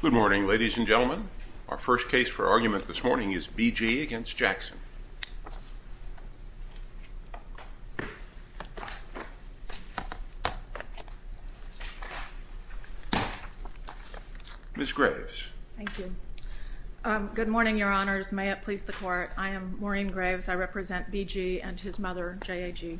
Good morning, ladies and gentlemen. Our first case for argument this morning is B.G. v. Jackson. Ms. Graves. Thank you. Good morning, Your Honors. May it please the Court, I am Maureen Graves. I represent B.G. and his mother, J.A.G.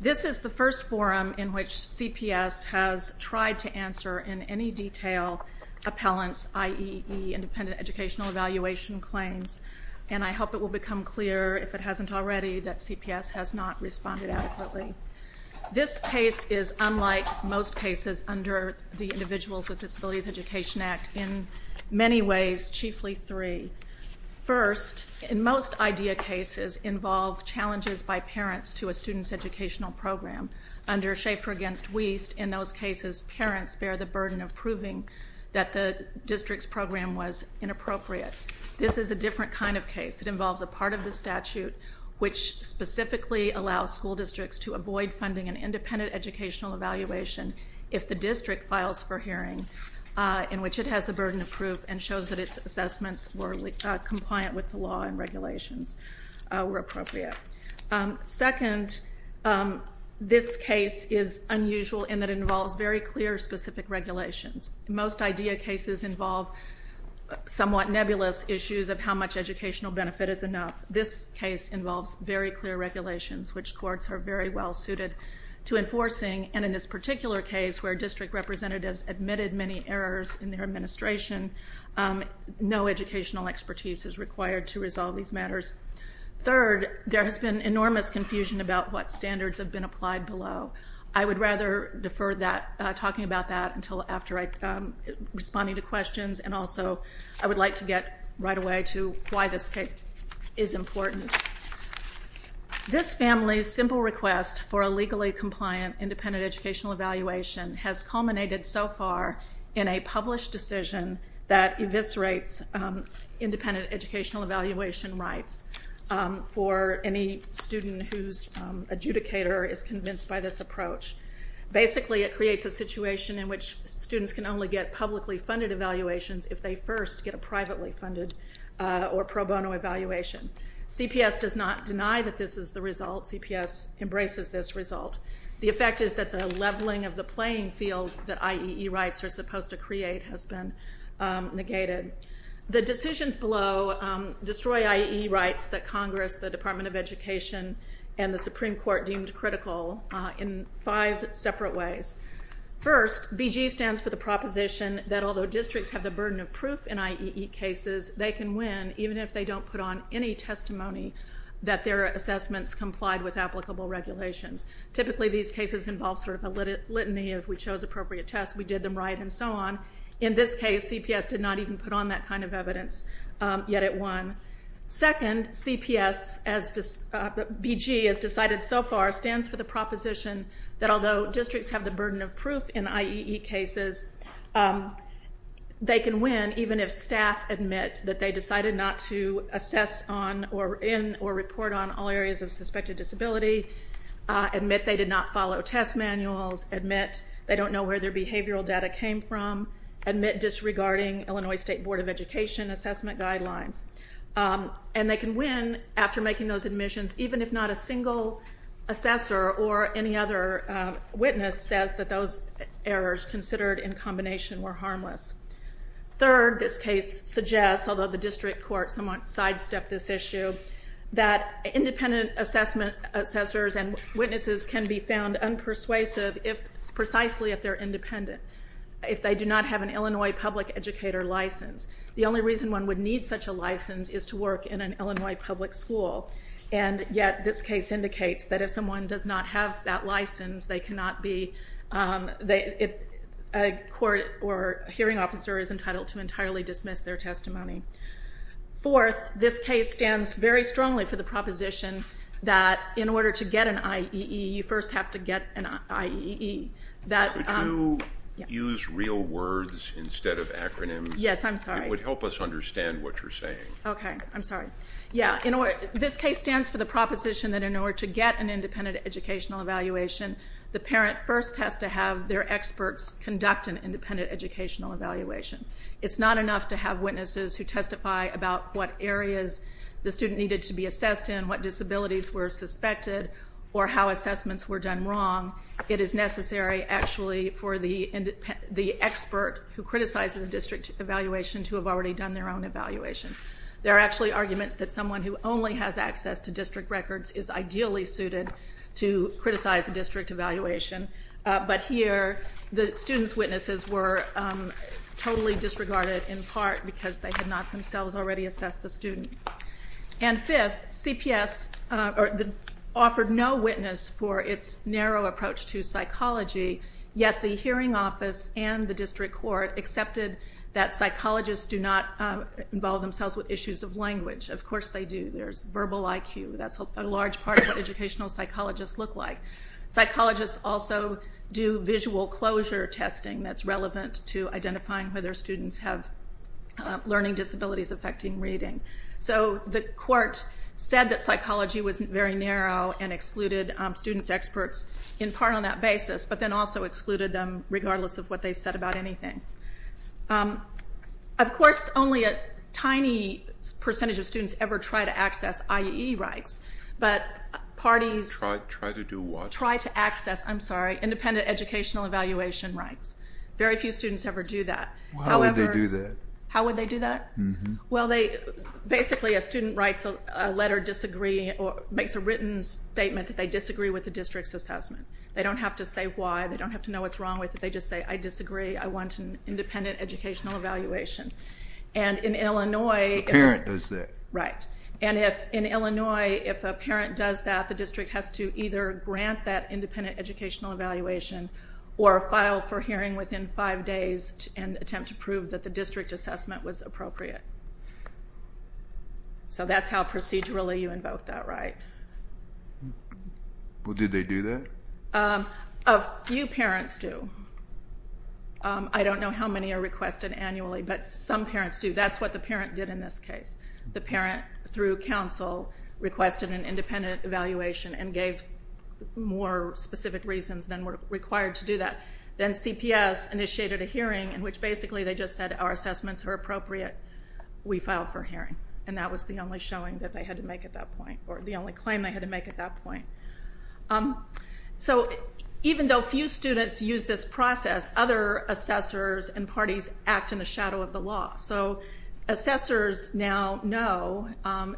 This is the first forum in which CPS has tried to answer in any detail appellant's IEE, Independent Educational Evaluation, claims. And I hope it will become clear, if it hasn't already, that CPS has not responded adequately. This case is unlike most cases under the Individuals with Disabilities Education Act in many ways, chiefly three. First, in most IDEA cases involve challenges by parents to a student's educational program. Under Schaeffer v. Wiest, in those cases, parents bear the burden of proving that the district's program was inappropriate. This is a different kind of case. It involves a part of the statute which specifically allows school districts to avoid funding an independent educational evaluation if the district files for hearing in which it has the burden of proof and shows that its assessments were compliant with the law and regulations were appropriate. Second, this case is unusual in that it involves very clear, specific regulations. Most IDEA cases involve somewhat nebulous issues of how much educational benefit is enough. This case involves very clear regulations, which courts are very well suited to enforcing. And in this particular case, where district representatives admitted many errors in their administration, no educational expertise is required to resolve these matters. Third, there has been enormous confusion about what standards have been applied below. I would rather defer talking about that until after responding to questions, and also I would like to get right away to why this case is important. This family's simple request for a legally compliant independent educational evaluation has culminated so far in a published decision that eviscerates independent educational evaluation rights for any student whose adjudicator is convinced by this approach. Basically, it creates a situation in which students can only get publicly funded evaluations if they first get a privately funded or pro bono evaluation. CPS does not deny that this is the result. CPS embraces this result. The effect is that the leveling of the playing field that IEE rights are supposed to create has been negated. The decisions below destroy IEE rights that Congress, the Department of Education, and the Supreme Court deemed critical in five separate ways. First, BG stands for the proposition that although districts have the burden of proof in IEE cases, they can win even if they don't put on any testimony that their assessments complied with applicable regulations. Typically, these cases involve sort of a litany of we chose appropriate tests, we did them right, and so on. In this case, CPS did not even put on that kind of evidence, yet it won. Second, BG, as decided so far, stands for the proposition that although districts have the burden of proof in IEE cases, they can win even if staff admit that they decided not to assess in or report on all areas of suspected disability, admit they did not follow test manuals, admit they don't know where their behavioral data came from, admit disregarding Illinois State Board of Education assessment guidelines. And they can win after making those admissions even if not a single assessor or any other witness says that those errors considered in combination were harmless. Third, this case suggests, although the district court somewhat sidestepped this issue, that independent assessors and witnesses can be found unpersuasive precisely if they're independent, if they do not have an Illinois public educator license. The only reason one would need such a license is to work in an Illinois public school, and yet this case indicates that if someone does not have that license, they cannot be a court or hearing officer is entitled to entirely dismiss their testimony. Fourth, this case stands very strongly for the proposition that in order to get an IEE, you first have to get an IEE. Could you use real words instead of acronyms? Yes, I'm sorry. It would help us understand what you're saying. Okay, I'm sorry. Yeah, this case stands for the proposition that in order to get an independent educational evaluation, the parent first has to have their experts conduct an independent educational evaluation. It's not enough to have witnesses who testify about what areas the student needed to be assessed in, what disabilities were suspected, or how assessments were done wrong. It is necessary, actually, for the expert who criticizes the district evaluation to have already done their own evaluation. There are actually arguments that someone who only has access to district records is ideally suited to criticize a district evaluation, but here the student's witnesses were totally disregarded in part because they had not themselves already assessed the student. And fifth, CPS offered no witness for its narrow approach to psychology, yet the hearing office and the district court accepted that psychologists do not involve themselves with issues of language. Of course they do. There's verbal IQ. That's a large part of what educational psychologists look like. Psychologists also do visual closure testing that's relevant to identifying whether students have learning disabilities affecting reading. So the court said that psychology was very narrow and excluded students' experts in part on that basis, but then also excluded them regardless of what they said about anything. Of course only a tiny percentage of students ever try to access IAE rights, but parties try to access independent educational evaluation rights. Very few students ever do that. How would they do that? How would they do that? Well, basically a student writes a letter disagreeing or makes a written statement that they disagree with the district's assessment. They don't have to say why. They don't have to know what's wrong with it. They just say, I disagree. I want an independent educational evaluation. And in Illinois... A parent does that. Right. And in Illinois, if a parent does that, the district has to either grant that independent educational evaluation or file for hearing within five days and attempt to prove that the district assessment was appropriate. So that's how procedurally you invoke that right. Did they do that? A few parents do. I don't know how many are requested annually, but some parents do. That's what the parent did in this case. The parent, through counsel, requested an independent evaluation and gave more specific reasons than were required to do that. Then CPS initiated a hearing in which basically they just said our assessments are appropriate. We filed for hearing. And that was the only showing that they had to make at that point, or the only claim they had to make at that point. So even though few students use this process, other assessors and parties act in the shadow of the law. So assessors now know,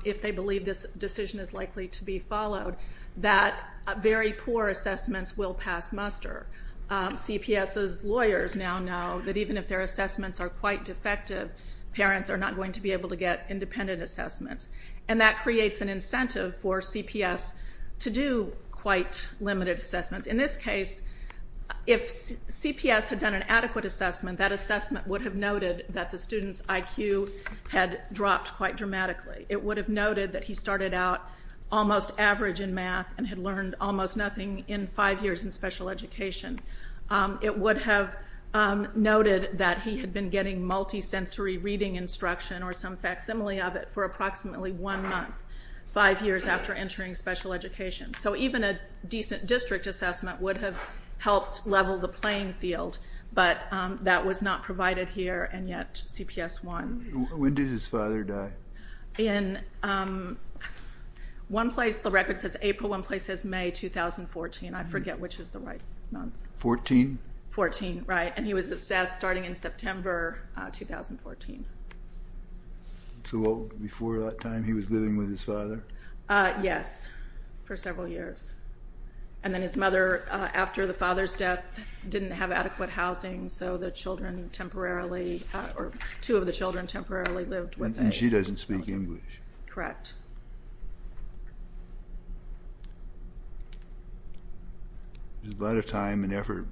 if they believe this decision is likely to be followed, that very poor assessments will pass muster. CPS's lawyers now know that even if their assessments are quite defective, parents are not going to be able to get independent assessments. And that creates an incentive for CPS to do quite limited assessments. In this case, if CPS had done an adequate assessment, that assessment would have noted that the student's IQ had dropped quite dramatically. It would have noted that he started out almost average in math and had learned almost nothing in five years in special education. It would have noted that he had been getting multisensory reading instruction or some facsimile of it for approximately one month, five years after entering special education. So even a decent district assessment would have helped level the playing field. But that was not provided here, and yet CPS won. When did his father die? In one place the record says April, one place says May 2014. I forget which is the right month. Fourteen? Fourteen, right. And he was assessed starting in September 2014. So before that time he was living with his father? Yes, for several years. And then his mother, after the father's death, didn't have adequate housing, so the children temporarily, or two of the children temporarily lived with a... And she doesn't speak English. Correct. There's a lot of time and effort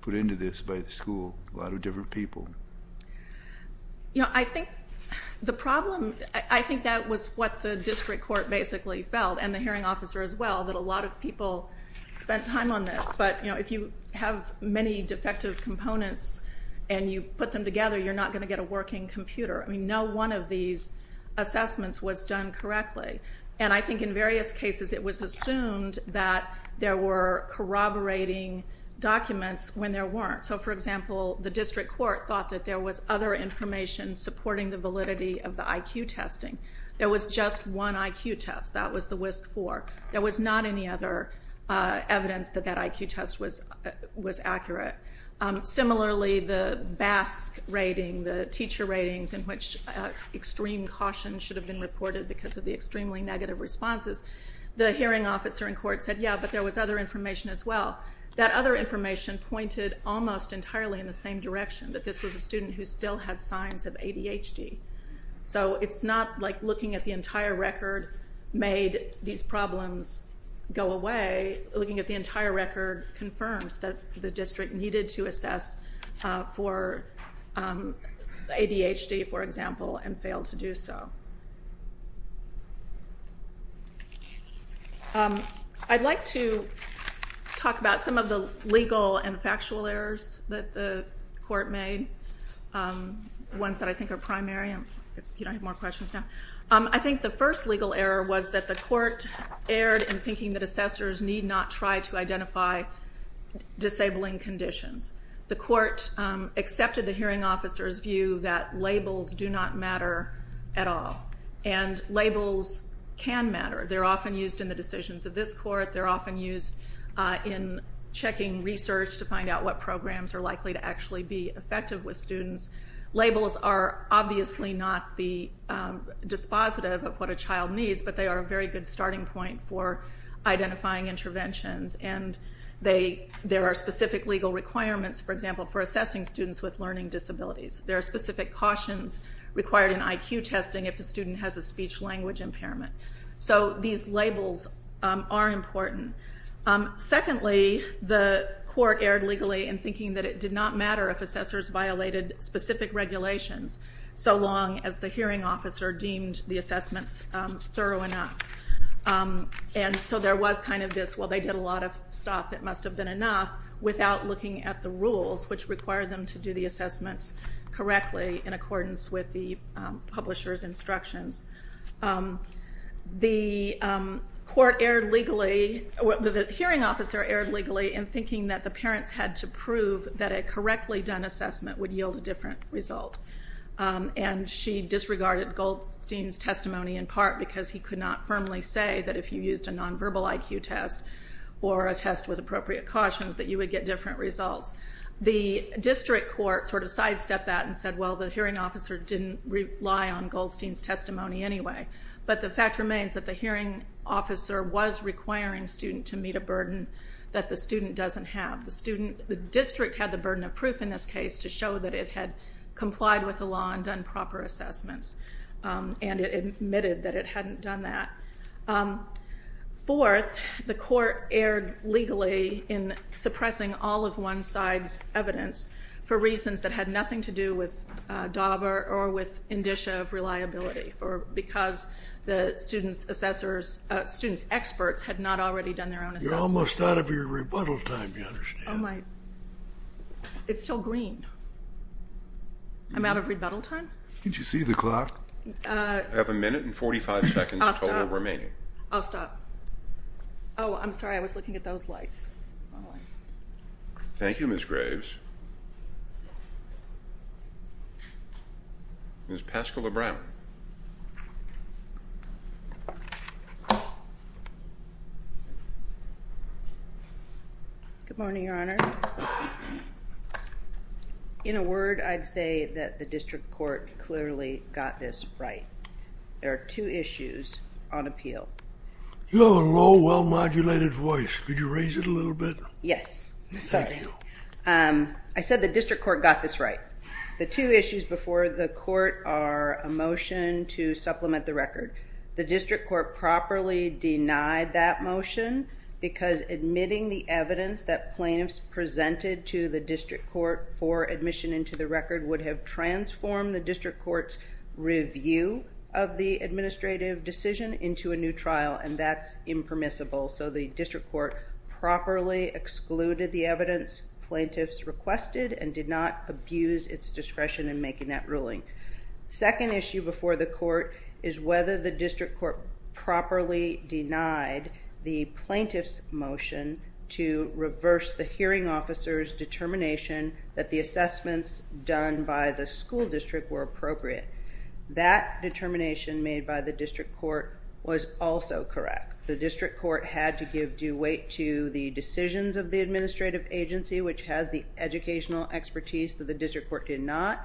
put into this by the school, a lot of different people. You know, I think the problem, I think that was what the district court basically felt, and the hearing officer as well, that a lot of people spent time on this. But, you know, if you have many defective components and you put them together, you're not going to get a working computer. I mean, no one of these assessments was done correctly. And I think in various cases it was assumed that there were corroborating documents when there weren't. So, for example, the district court thought that there was other information supporting the validity of the IQ testing. There was just one IQ test. That was the WISC-IV. There was not any other evidence that that IQ test was accurate. Similarly, the BASC rating, the teacher ratings, in which extreme caution should have been reported because of the extremely negative responses, the hearing officer in court said, yeah, but there was other information as well. That other information pointed almost entirely in the same direction, that this was a student who still had signs of ADHD. So it's not like looking at the entire record made these problems go away. Looking at the entire record confirms that the district needed to assess for ADHD, for example, and failed to do so. I'd like to talk about some of the legal and factual errors that the court made, ones that I think are primary. If you don't have more questions now. I think the first legal error was that the court erred in thinking that assessors need not try to identify disabling conditions. The court accepted the hearing officer's view that labels do not matter at all. And labels can matter. They're often used in the decisions of this court. They're often used in checking research to find out what programs are likely to actually be effective with students. Labels are obviously not the dispositive of what a child needs, but they are a very good starting point for identifying interventions. And there are specific legal requirements, for example, for assessing students with learning disabilities. There are specific cautions required in IQ testing if a student has a speech-language impairment. So these labels are important. Secondly, the court erred legally in thinking that it did not matter if assessors violated specific regulations so long as the hearing officer deemed the assessments thorough enough. And so there was kind of this, well, they did a lot of stuff. It must have been enough, without looking at the rules, which required them to do the assessments correctly in accordance with the publisher's instructions. The hearing officer erred legally in thinking that the parents had to prove that a correctly done assessment would yield a different result. And she disregarded Goldstein's testimony in part because he could not firmly say that if you used a non-verbal IQ test or a test with appropriate cautions that you would get different results. The district court sort of sidestepped that and said, well, the hearing officer didn't rely on Goldstein's testimony anyway. But the fact remains that the hearing officer was requiring students to meet a burden that the student doesn't have. The student, the district had the burden of proof in this case to show that it had complied with the law and done proper assessments. And it admitted that it hadn't done that. Fourth, the court erred legally in suppressing all of one side's evidence for reasons that had nothing to do with Dauber or with indicia of reliability because the student's assessors, student's experts had not already done their own assessments. I'm almost out of your rebuttal time, you understand. It's still green. I'm out of rebuttal time? Did you see the clock? I have a minute and 45 seconds total remaining. I'll stop. Oh, I'm sorry, I was looking at those lights. Thank you, Ms. Graves. Ms. Paschal-Lebrown. Good morning, Your Honor. In a word, I'd say that the district court clearly got this right. There are two issues on appeal. You have a low, well-modulated voice. Could you raise it a little bit? Yes. I said the district court got this right. The two issues before the court are a motion to supplement the record. The district court properly denied that motion because admitting the evidence that plaintiffs presented to the district court for admission into the record would have transformed the district court's review of the administrative decision into a new trial, and that's impermissible. So the district court properly excluded the evidence plaintiffs requested and did not abuse its discretion in making that ruling. Second issue before the court is whether the district court properly denied the plaintiff's motion to reverse the hearing officer's determination that the assessments done by the school district were appropriate. That determination made by the district court was also correct. The district court had to give due weight to the decisions of the administrative agency, which has the educational expertise that the district court did not.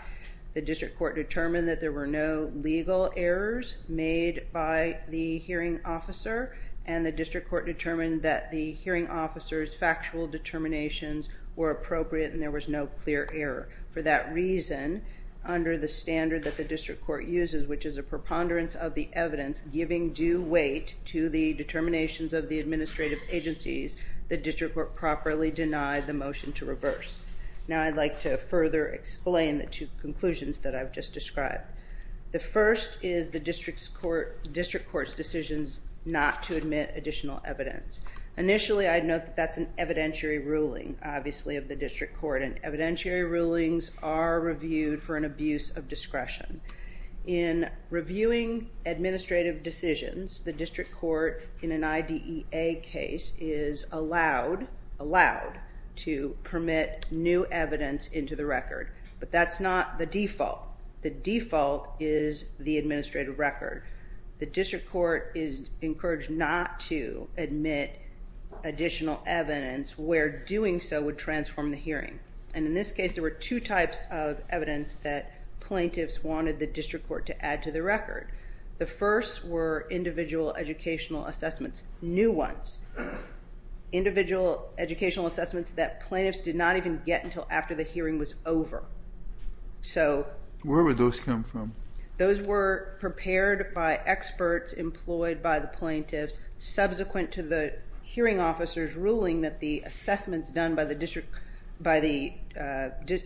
The district court determined that there were no legal errors made by the hearing officer, and the district court determined that the hearing officer's factual determinations were appropriate and there was no clear error. For that reason, under the standard that the district court uses, which is a preponderance of the evidence giving due weight to the determinations of the administrative agencies, the district court properly denied the motion to reverse. Now I'd like to further explain the two conclusions that I've just described. The first is the district court's decisions not to admit additional evidence. Initially, I'd note that that's an evidentiary ruling, obviously, of the district court, and evidentiary rulings are reviewed for an abuse of discretion. In reviewing administrative decisions, the district court, in an IDEA case, is allowed to permit new evidence into the record, but that's not the default. The default is the administrative record. The district court is encouraged not to admit additional evidence where doing so would transform the hearing, and in this case, there were two types of evidence that plaintiffs wanted the district court to add to the record. The first were individual educational assessments, new ones, individual educational assessments that plaintiffs did not even get until after the hearing was over. Where would those come from? Those were prepared by experts employed by the plaintiffs subsequent to the hearing officer's ruling that the assessments done by the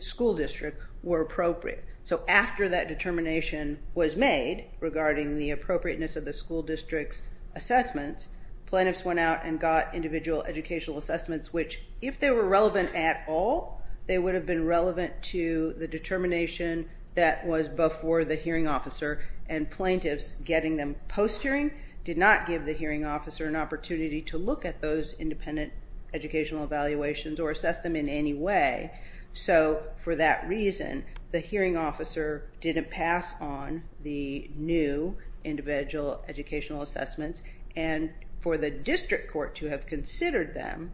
school district were appropriate. So after that determination was made regarding the appropriateness of the school district's assessments, plaintiffs went out and got individual educational assessments, which if they were relevant at all, they would have been relevant to the determination that was before the hearing officer, and plaintiffs getting them post-hearing did not give the hearing officer an opportunity to look at those independent educational evaluations or assess them in any way. So for that reason, the hearing officer didn't pass on the new individual educational assessments, and for the district court to have considered them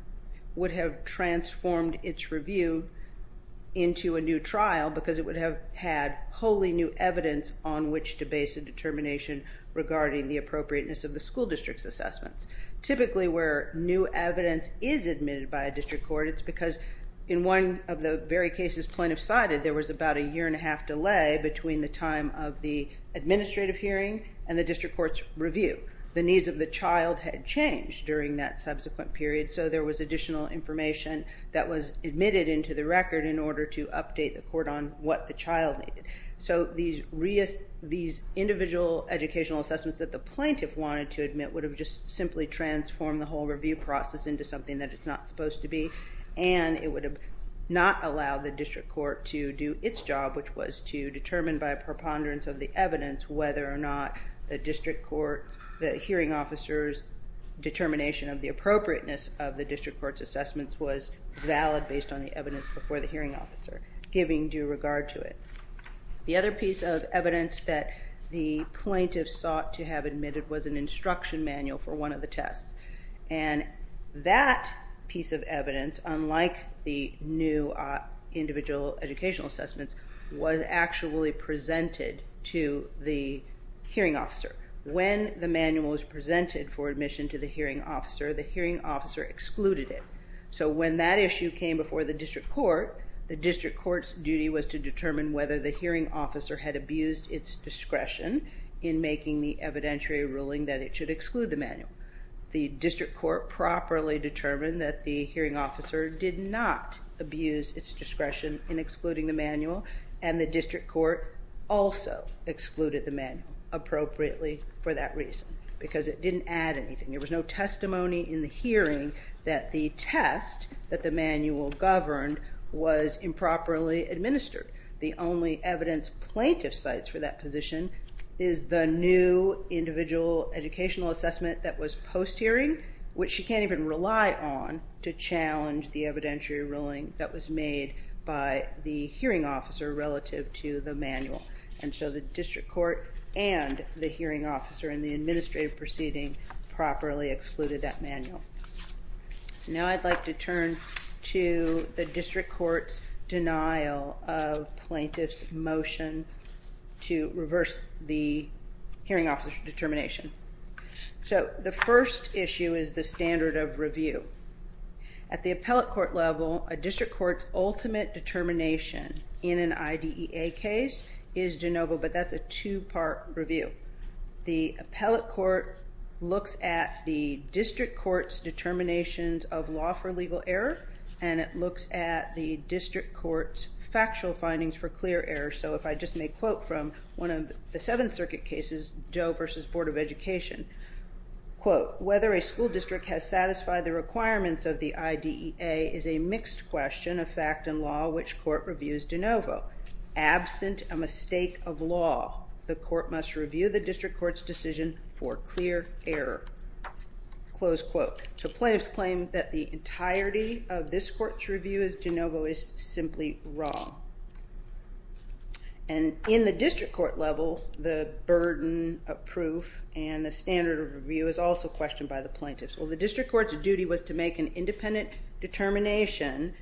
would have transformed its review into a new trial because it would have had wholly new evidence on which to base a determination regarding the appropriateness of the school district's assessments. Typically where new evidence is admitted by a district court, it's because in one of the very cases plaintiffs cited, there was about a year-and-a-half delay between the time of the administrative hearing and the district court's review. The needs of the child had changed during that subsequent period, so there was additional information that was admitted into the record in order to update the court on what the child needed. So these individual educational assessments that the plaintiff wanted to admit would have just simply transformed the whole review process into something that it's not supposed to be, and it would not allow the district court to do its job, which was to determine by a preponderance of the evidence whether or not the hearing officer's determination of the appropriateness of the district court's assessments was valid based on the evidence before the hearing officer, giving due regard to it. The other piece of evidence that the plaintiff sought to have admitted was an instruction manual for one of the tests, and that piece of evidence, unlike the new individual educational assessments, was actually presented to the hearing officer. When the manual was presented for admission to the hearing officer, the hearing officer excluded it. So when that issue came before the district court, the district court's duty was to determine whether the hearing officer had abused its discretion in making the evidentiary ruling that it should exclude the manual. The district court properly determined that the hearing officer did not abuse its discretion in excluding the manual, and the district court also excluded the manual appropriately for that reason because it didn't add anything. There was no testimony in the hearing that the test that the manual governed was improperly administered. The only evidence plaintiff cites for that position is the new individual educational assessment that was post-hearing, which she can't even rely on to challenge the evidentiary ruling that was made by the hearing officer relative to the manual. And so the district court and the hearing officer in the administrative proceeding properly excluded that manual. Now I'd like to turn to the district court's denial of plaintiff's motion to reverse the hearing officer's determination. So the first issue is the standard of review. At the appellate court level, a district court's ultimate determination in an IDEA case is de novo, but that's a two-part review. The appellate court looks at the district court's determinations of law for legal error, and it looks at the district court's factual findings for clear error. So if I just make a quote from one of the Seventh Circuit cases, Joe v. Board of Education, whether a school district has satisfied the requirements of the IDEA is a mixed question of fact and law, which court reviews de novo. Absent a mistake of law, the court must review the district court's decision for clear error. So plaintiffs claim that the entirety of this court's review is de novo is simply wrong. And in the district court level, the burden of proof and the standard of review is also questioned by the plaintiffs. Well, the district court's duty was to make an independent determination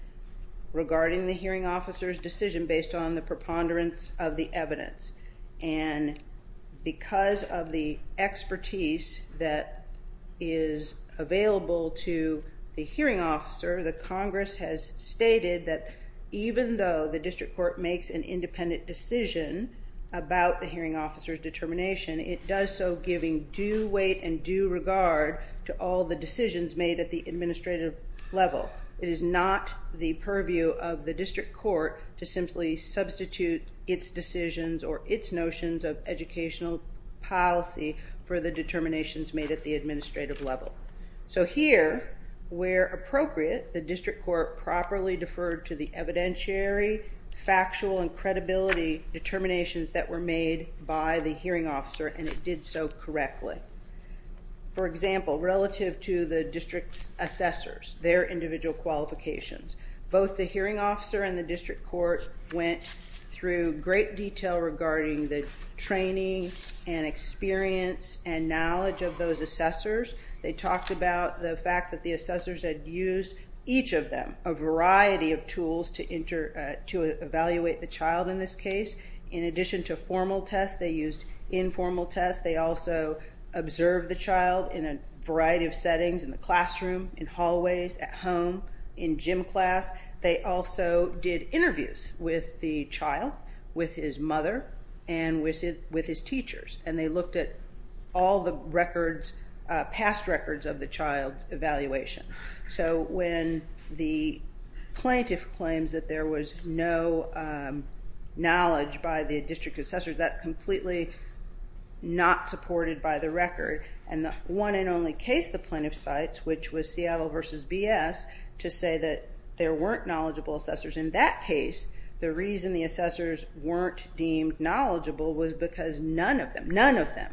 regarding the hearing officer's decision based on the preponderance of the evidence. And because of the expertise that is available to the hearing officer, the Congress has stated that even though the district court makes an independent decision about the hearing officer's determination, it does so giving due weight and due regard to all the decisions made at the administrative level. It is not the purview of the district court to simply substitute its decisions or its notions of educational policy for the determinations made at the administrative level. So here, where appropriate, the district court properly deferred to the evidentiary, factual, and credibility determinations that were made by the hearing officer, and it did so correctly. For example, relative to the district's assessors, their individual qualifications, both the hearing officer and the district court went through great detail regarding the training and experience and knowledge of those assessors. They talked about the fact that the assessors had used each of them, a variety of tools to evaluate the child in this case. In addition to formal tests, they used informal tests. They also observed the child in a variety of settings, in the classroom, in hallways, at home, in gym class. They also did interviews with the child, with his mother, and with his teachers, and they looked at all the records, past records of the child's evaluation. So when the plaintiff claims that there was no knowledge by the district assessors, that's completely not supported by the record, and the one and only case the plaintiff cites, which was Seattle v. BS, to say that there weren't knowledgeable assessors in that case, the reason the assessors weren't deemed knowledgeable was because none of them, none of them,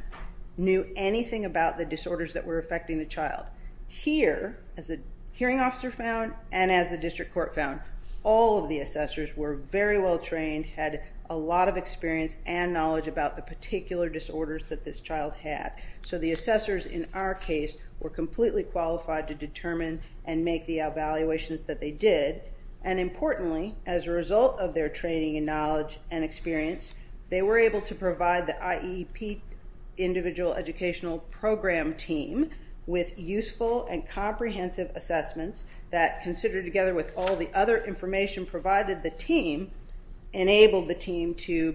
knew anything about the disorders that were affecting the child. Here, as the hearing officer found and as the district court found, all of the assessors were very well trained, had a lot of experience and knowledge about the particular disorders that this child had. So the assessors in our case were completely qualified to determine and make the evaluations that they did, and importantly, as a result of their training and knowledge and experience, they were able to provide the IEP, Individual Educational Program, team with useful and comprehensive assessments that, considered together with all the other information provided, the team enabled the team to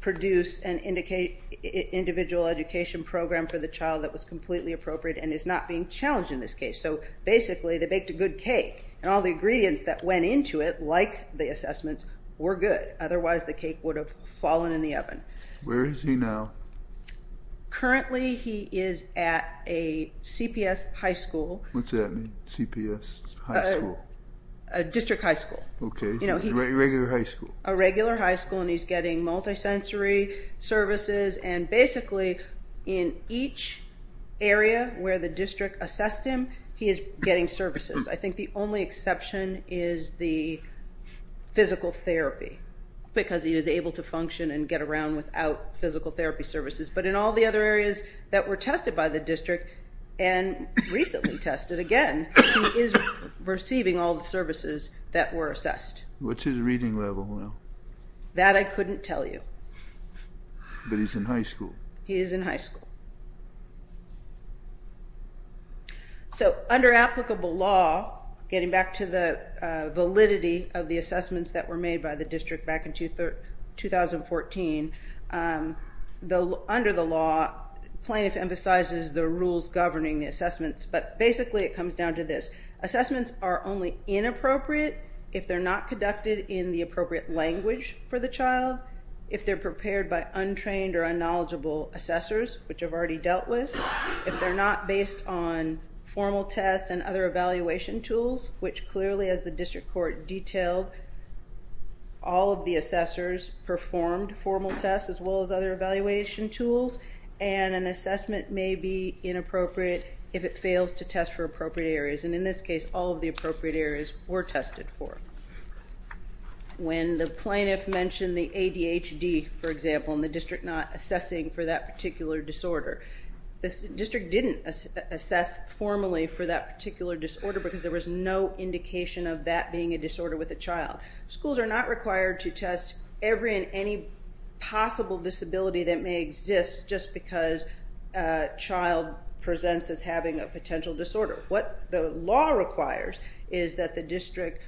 produce an individual education program for the child that was completely appropriate and is not being challenged in this case. So basically, they baked a good cake, and all the ingredients that went into it, like the assessments, were good. Otherwise, the cake would have fallen in the oven. Where is he now? Currently, he is at a CPS high school. What does that mean, CPS high school? A district high school. Okay, so he's at a regular high school. A regular high school, and he's getting multisensory services, and basically in each area where the district assessed him, he is getting services. I think the only exception is the physical therapy, because he is able to function and get around without physical therapy services. But in all the other areas that were tested by the district and recently tested, again, he is receiving all the services that were assessed. What's his reading level now? That I couldn't tell you. But he's in high school. He is in high school. So under applicable law, getting back to the validity of the assessments that were made by the district back in 2014, under the law, plaintiff emphasizes the rules governing the assessments, but basically it comes down to this. Assessments are only inappropriate if they're not conducted in the appropriate language for the child, if they're prepared by untrained or unknowledgeable assessors, which I've already dealt with, if they're not based on formal tests and other evaluation tools, which clearly as the district court detailed, all of the assessors performed formal tests as well as other evaluation tools, and an assessment may be inappropriate if it fails to test for appropriate areas. And in this case, all of the appropriate areas were tested for. When the plaintiff mentioned the ADHD, for example, and the district not assessing for that particular disorder, the district didn't assess formally for that particular disorder because there was no indication of that being a disorder with a child. Schools are not required to test every and any possible disability that may exist just because a child presents as having a potential disorder. What the law requires is that the district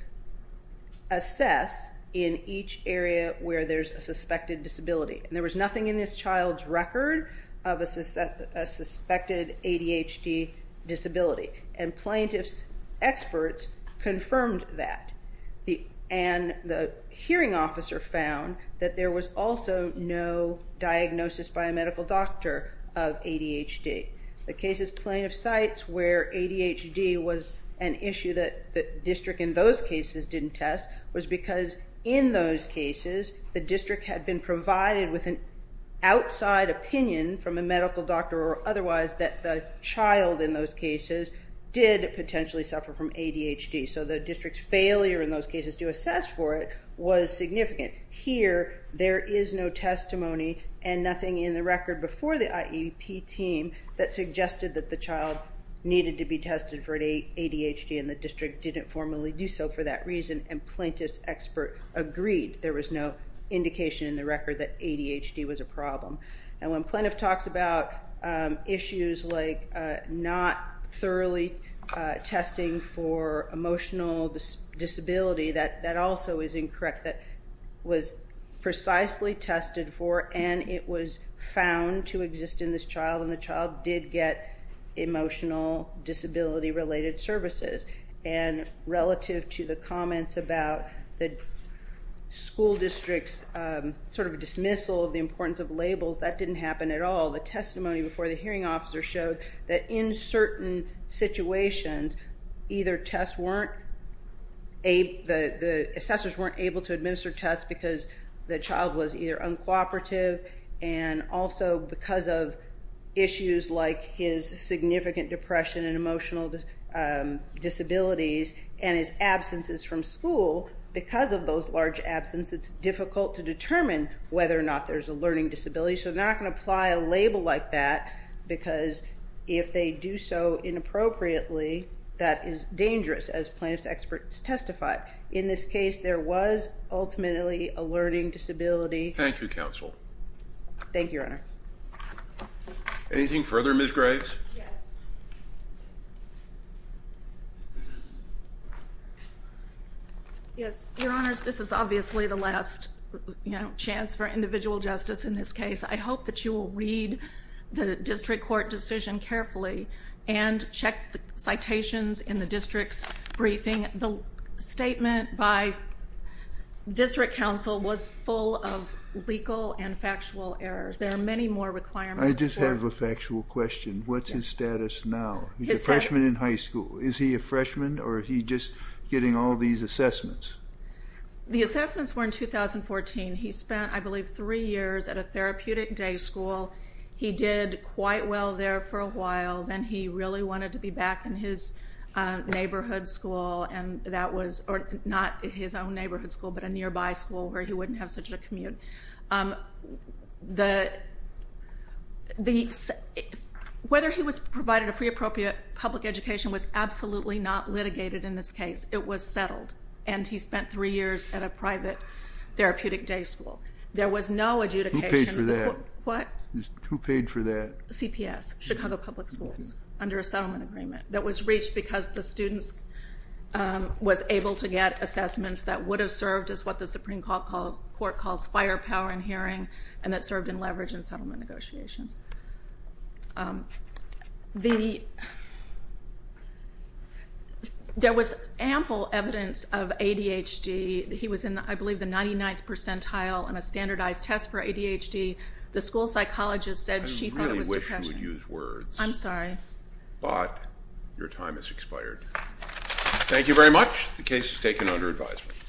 assess in each area where there's a suspected disability, and there was nothing in this child's record of a suspected ADHD disability, and plaintiff's experts confirmed that. And the hearing officer found that there was also no diagnosis by a medical doctor of ADHD. The cases plaintiff cites where ADHD was an issue that the district in those cases didn't test was because in those cases, the district had been provided with an outside opinion from a medical doctor or otherwise that the child in those cases did potentially suffer from ADHD. So the district's failure in those cases to assess for it was significant. Here, there is no testimony and nothing in the record before the IEP team that suggested that the child needed to be tested for ADHD, and the district didn't formally do so for that reason, and plaintiff's expert agreed. There was no indication in the record that ADHD was a problem. And when plaintiff talks about issues like not thoroughly testing for emotional disability, that also is incorrect. That was precisely tested for, and it was found to exist in this child, and the child did get emotional disability-related services. And relative to the comments about the school district's sort of dismissal of the importance of labels, that didn't happen at all. The testimony before the hearing officer showed that in certain situations, either the assessors weren't able to administer tests because the child was either uncooperative and also because of issues like his significant depression and emotional disabilities and his absences from school, because of those large absences, it's difficult to determine whether or not there's a learning disability. So they're not going to apply a label like that, because if they do so inappropriately, that is dangerous, as plaintiff's experts testified. In this case, there was ultimately a learning disability. Thank you, counsel. Thank you, Your Honor. Anything further, Ms. Graves? Yes. Your Honors, this is obviously the last chance for individual justice in this case. I hope that you will read the district court decision carefully and check the citations in the district's briefing. The statement by district counsel was full of legal and factual errors. There are many more requirements. I just have a factual question. What's his status now? He's a freshman in high school. Is he a freshman, or is he just getting all these assessments? The assessments were in 2014. He spent, I believe, three years at a therapeutic day school. He did quite well there for a while. Then he really wanted to be back in his neighborhood school, not his own neighborhood school, but a nearby school where he wouldn't have such a commute. Whether he was provided a free appropriate public education was absolutely not litigated in this case. It was settled, and he spent three years at a private therapeutic day school. There was no adjudication. Who paid for that? What? Who paid for that? CPS, Chicago Public Schools, under a settlement agreement that was reached because the students was able to get assessments that would have served as what the Supreme Court calls firepower in hearing and that served in leverage and settlement negotiations. There was ample evidence of ADHD. He was in, I believe, the 99th percentile in a standardized test for ADHD. The school psychologist said she thought it was depression. I really wish you would use words. I'm sorry. But your time has expired. Thank you very much. The case is taken under advisement.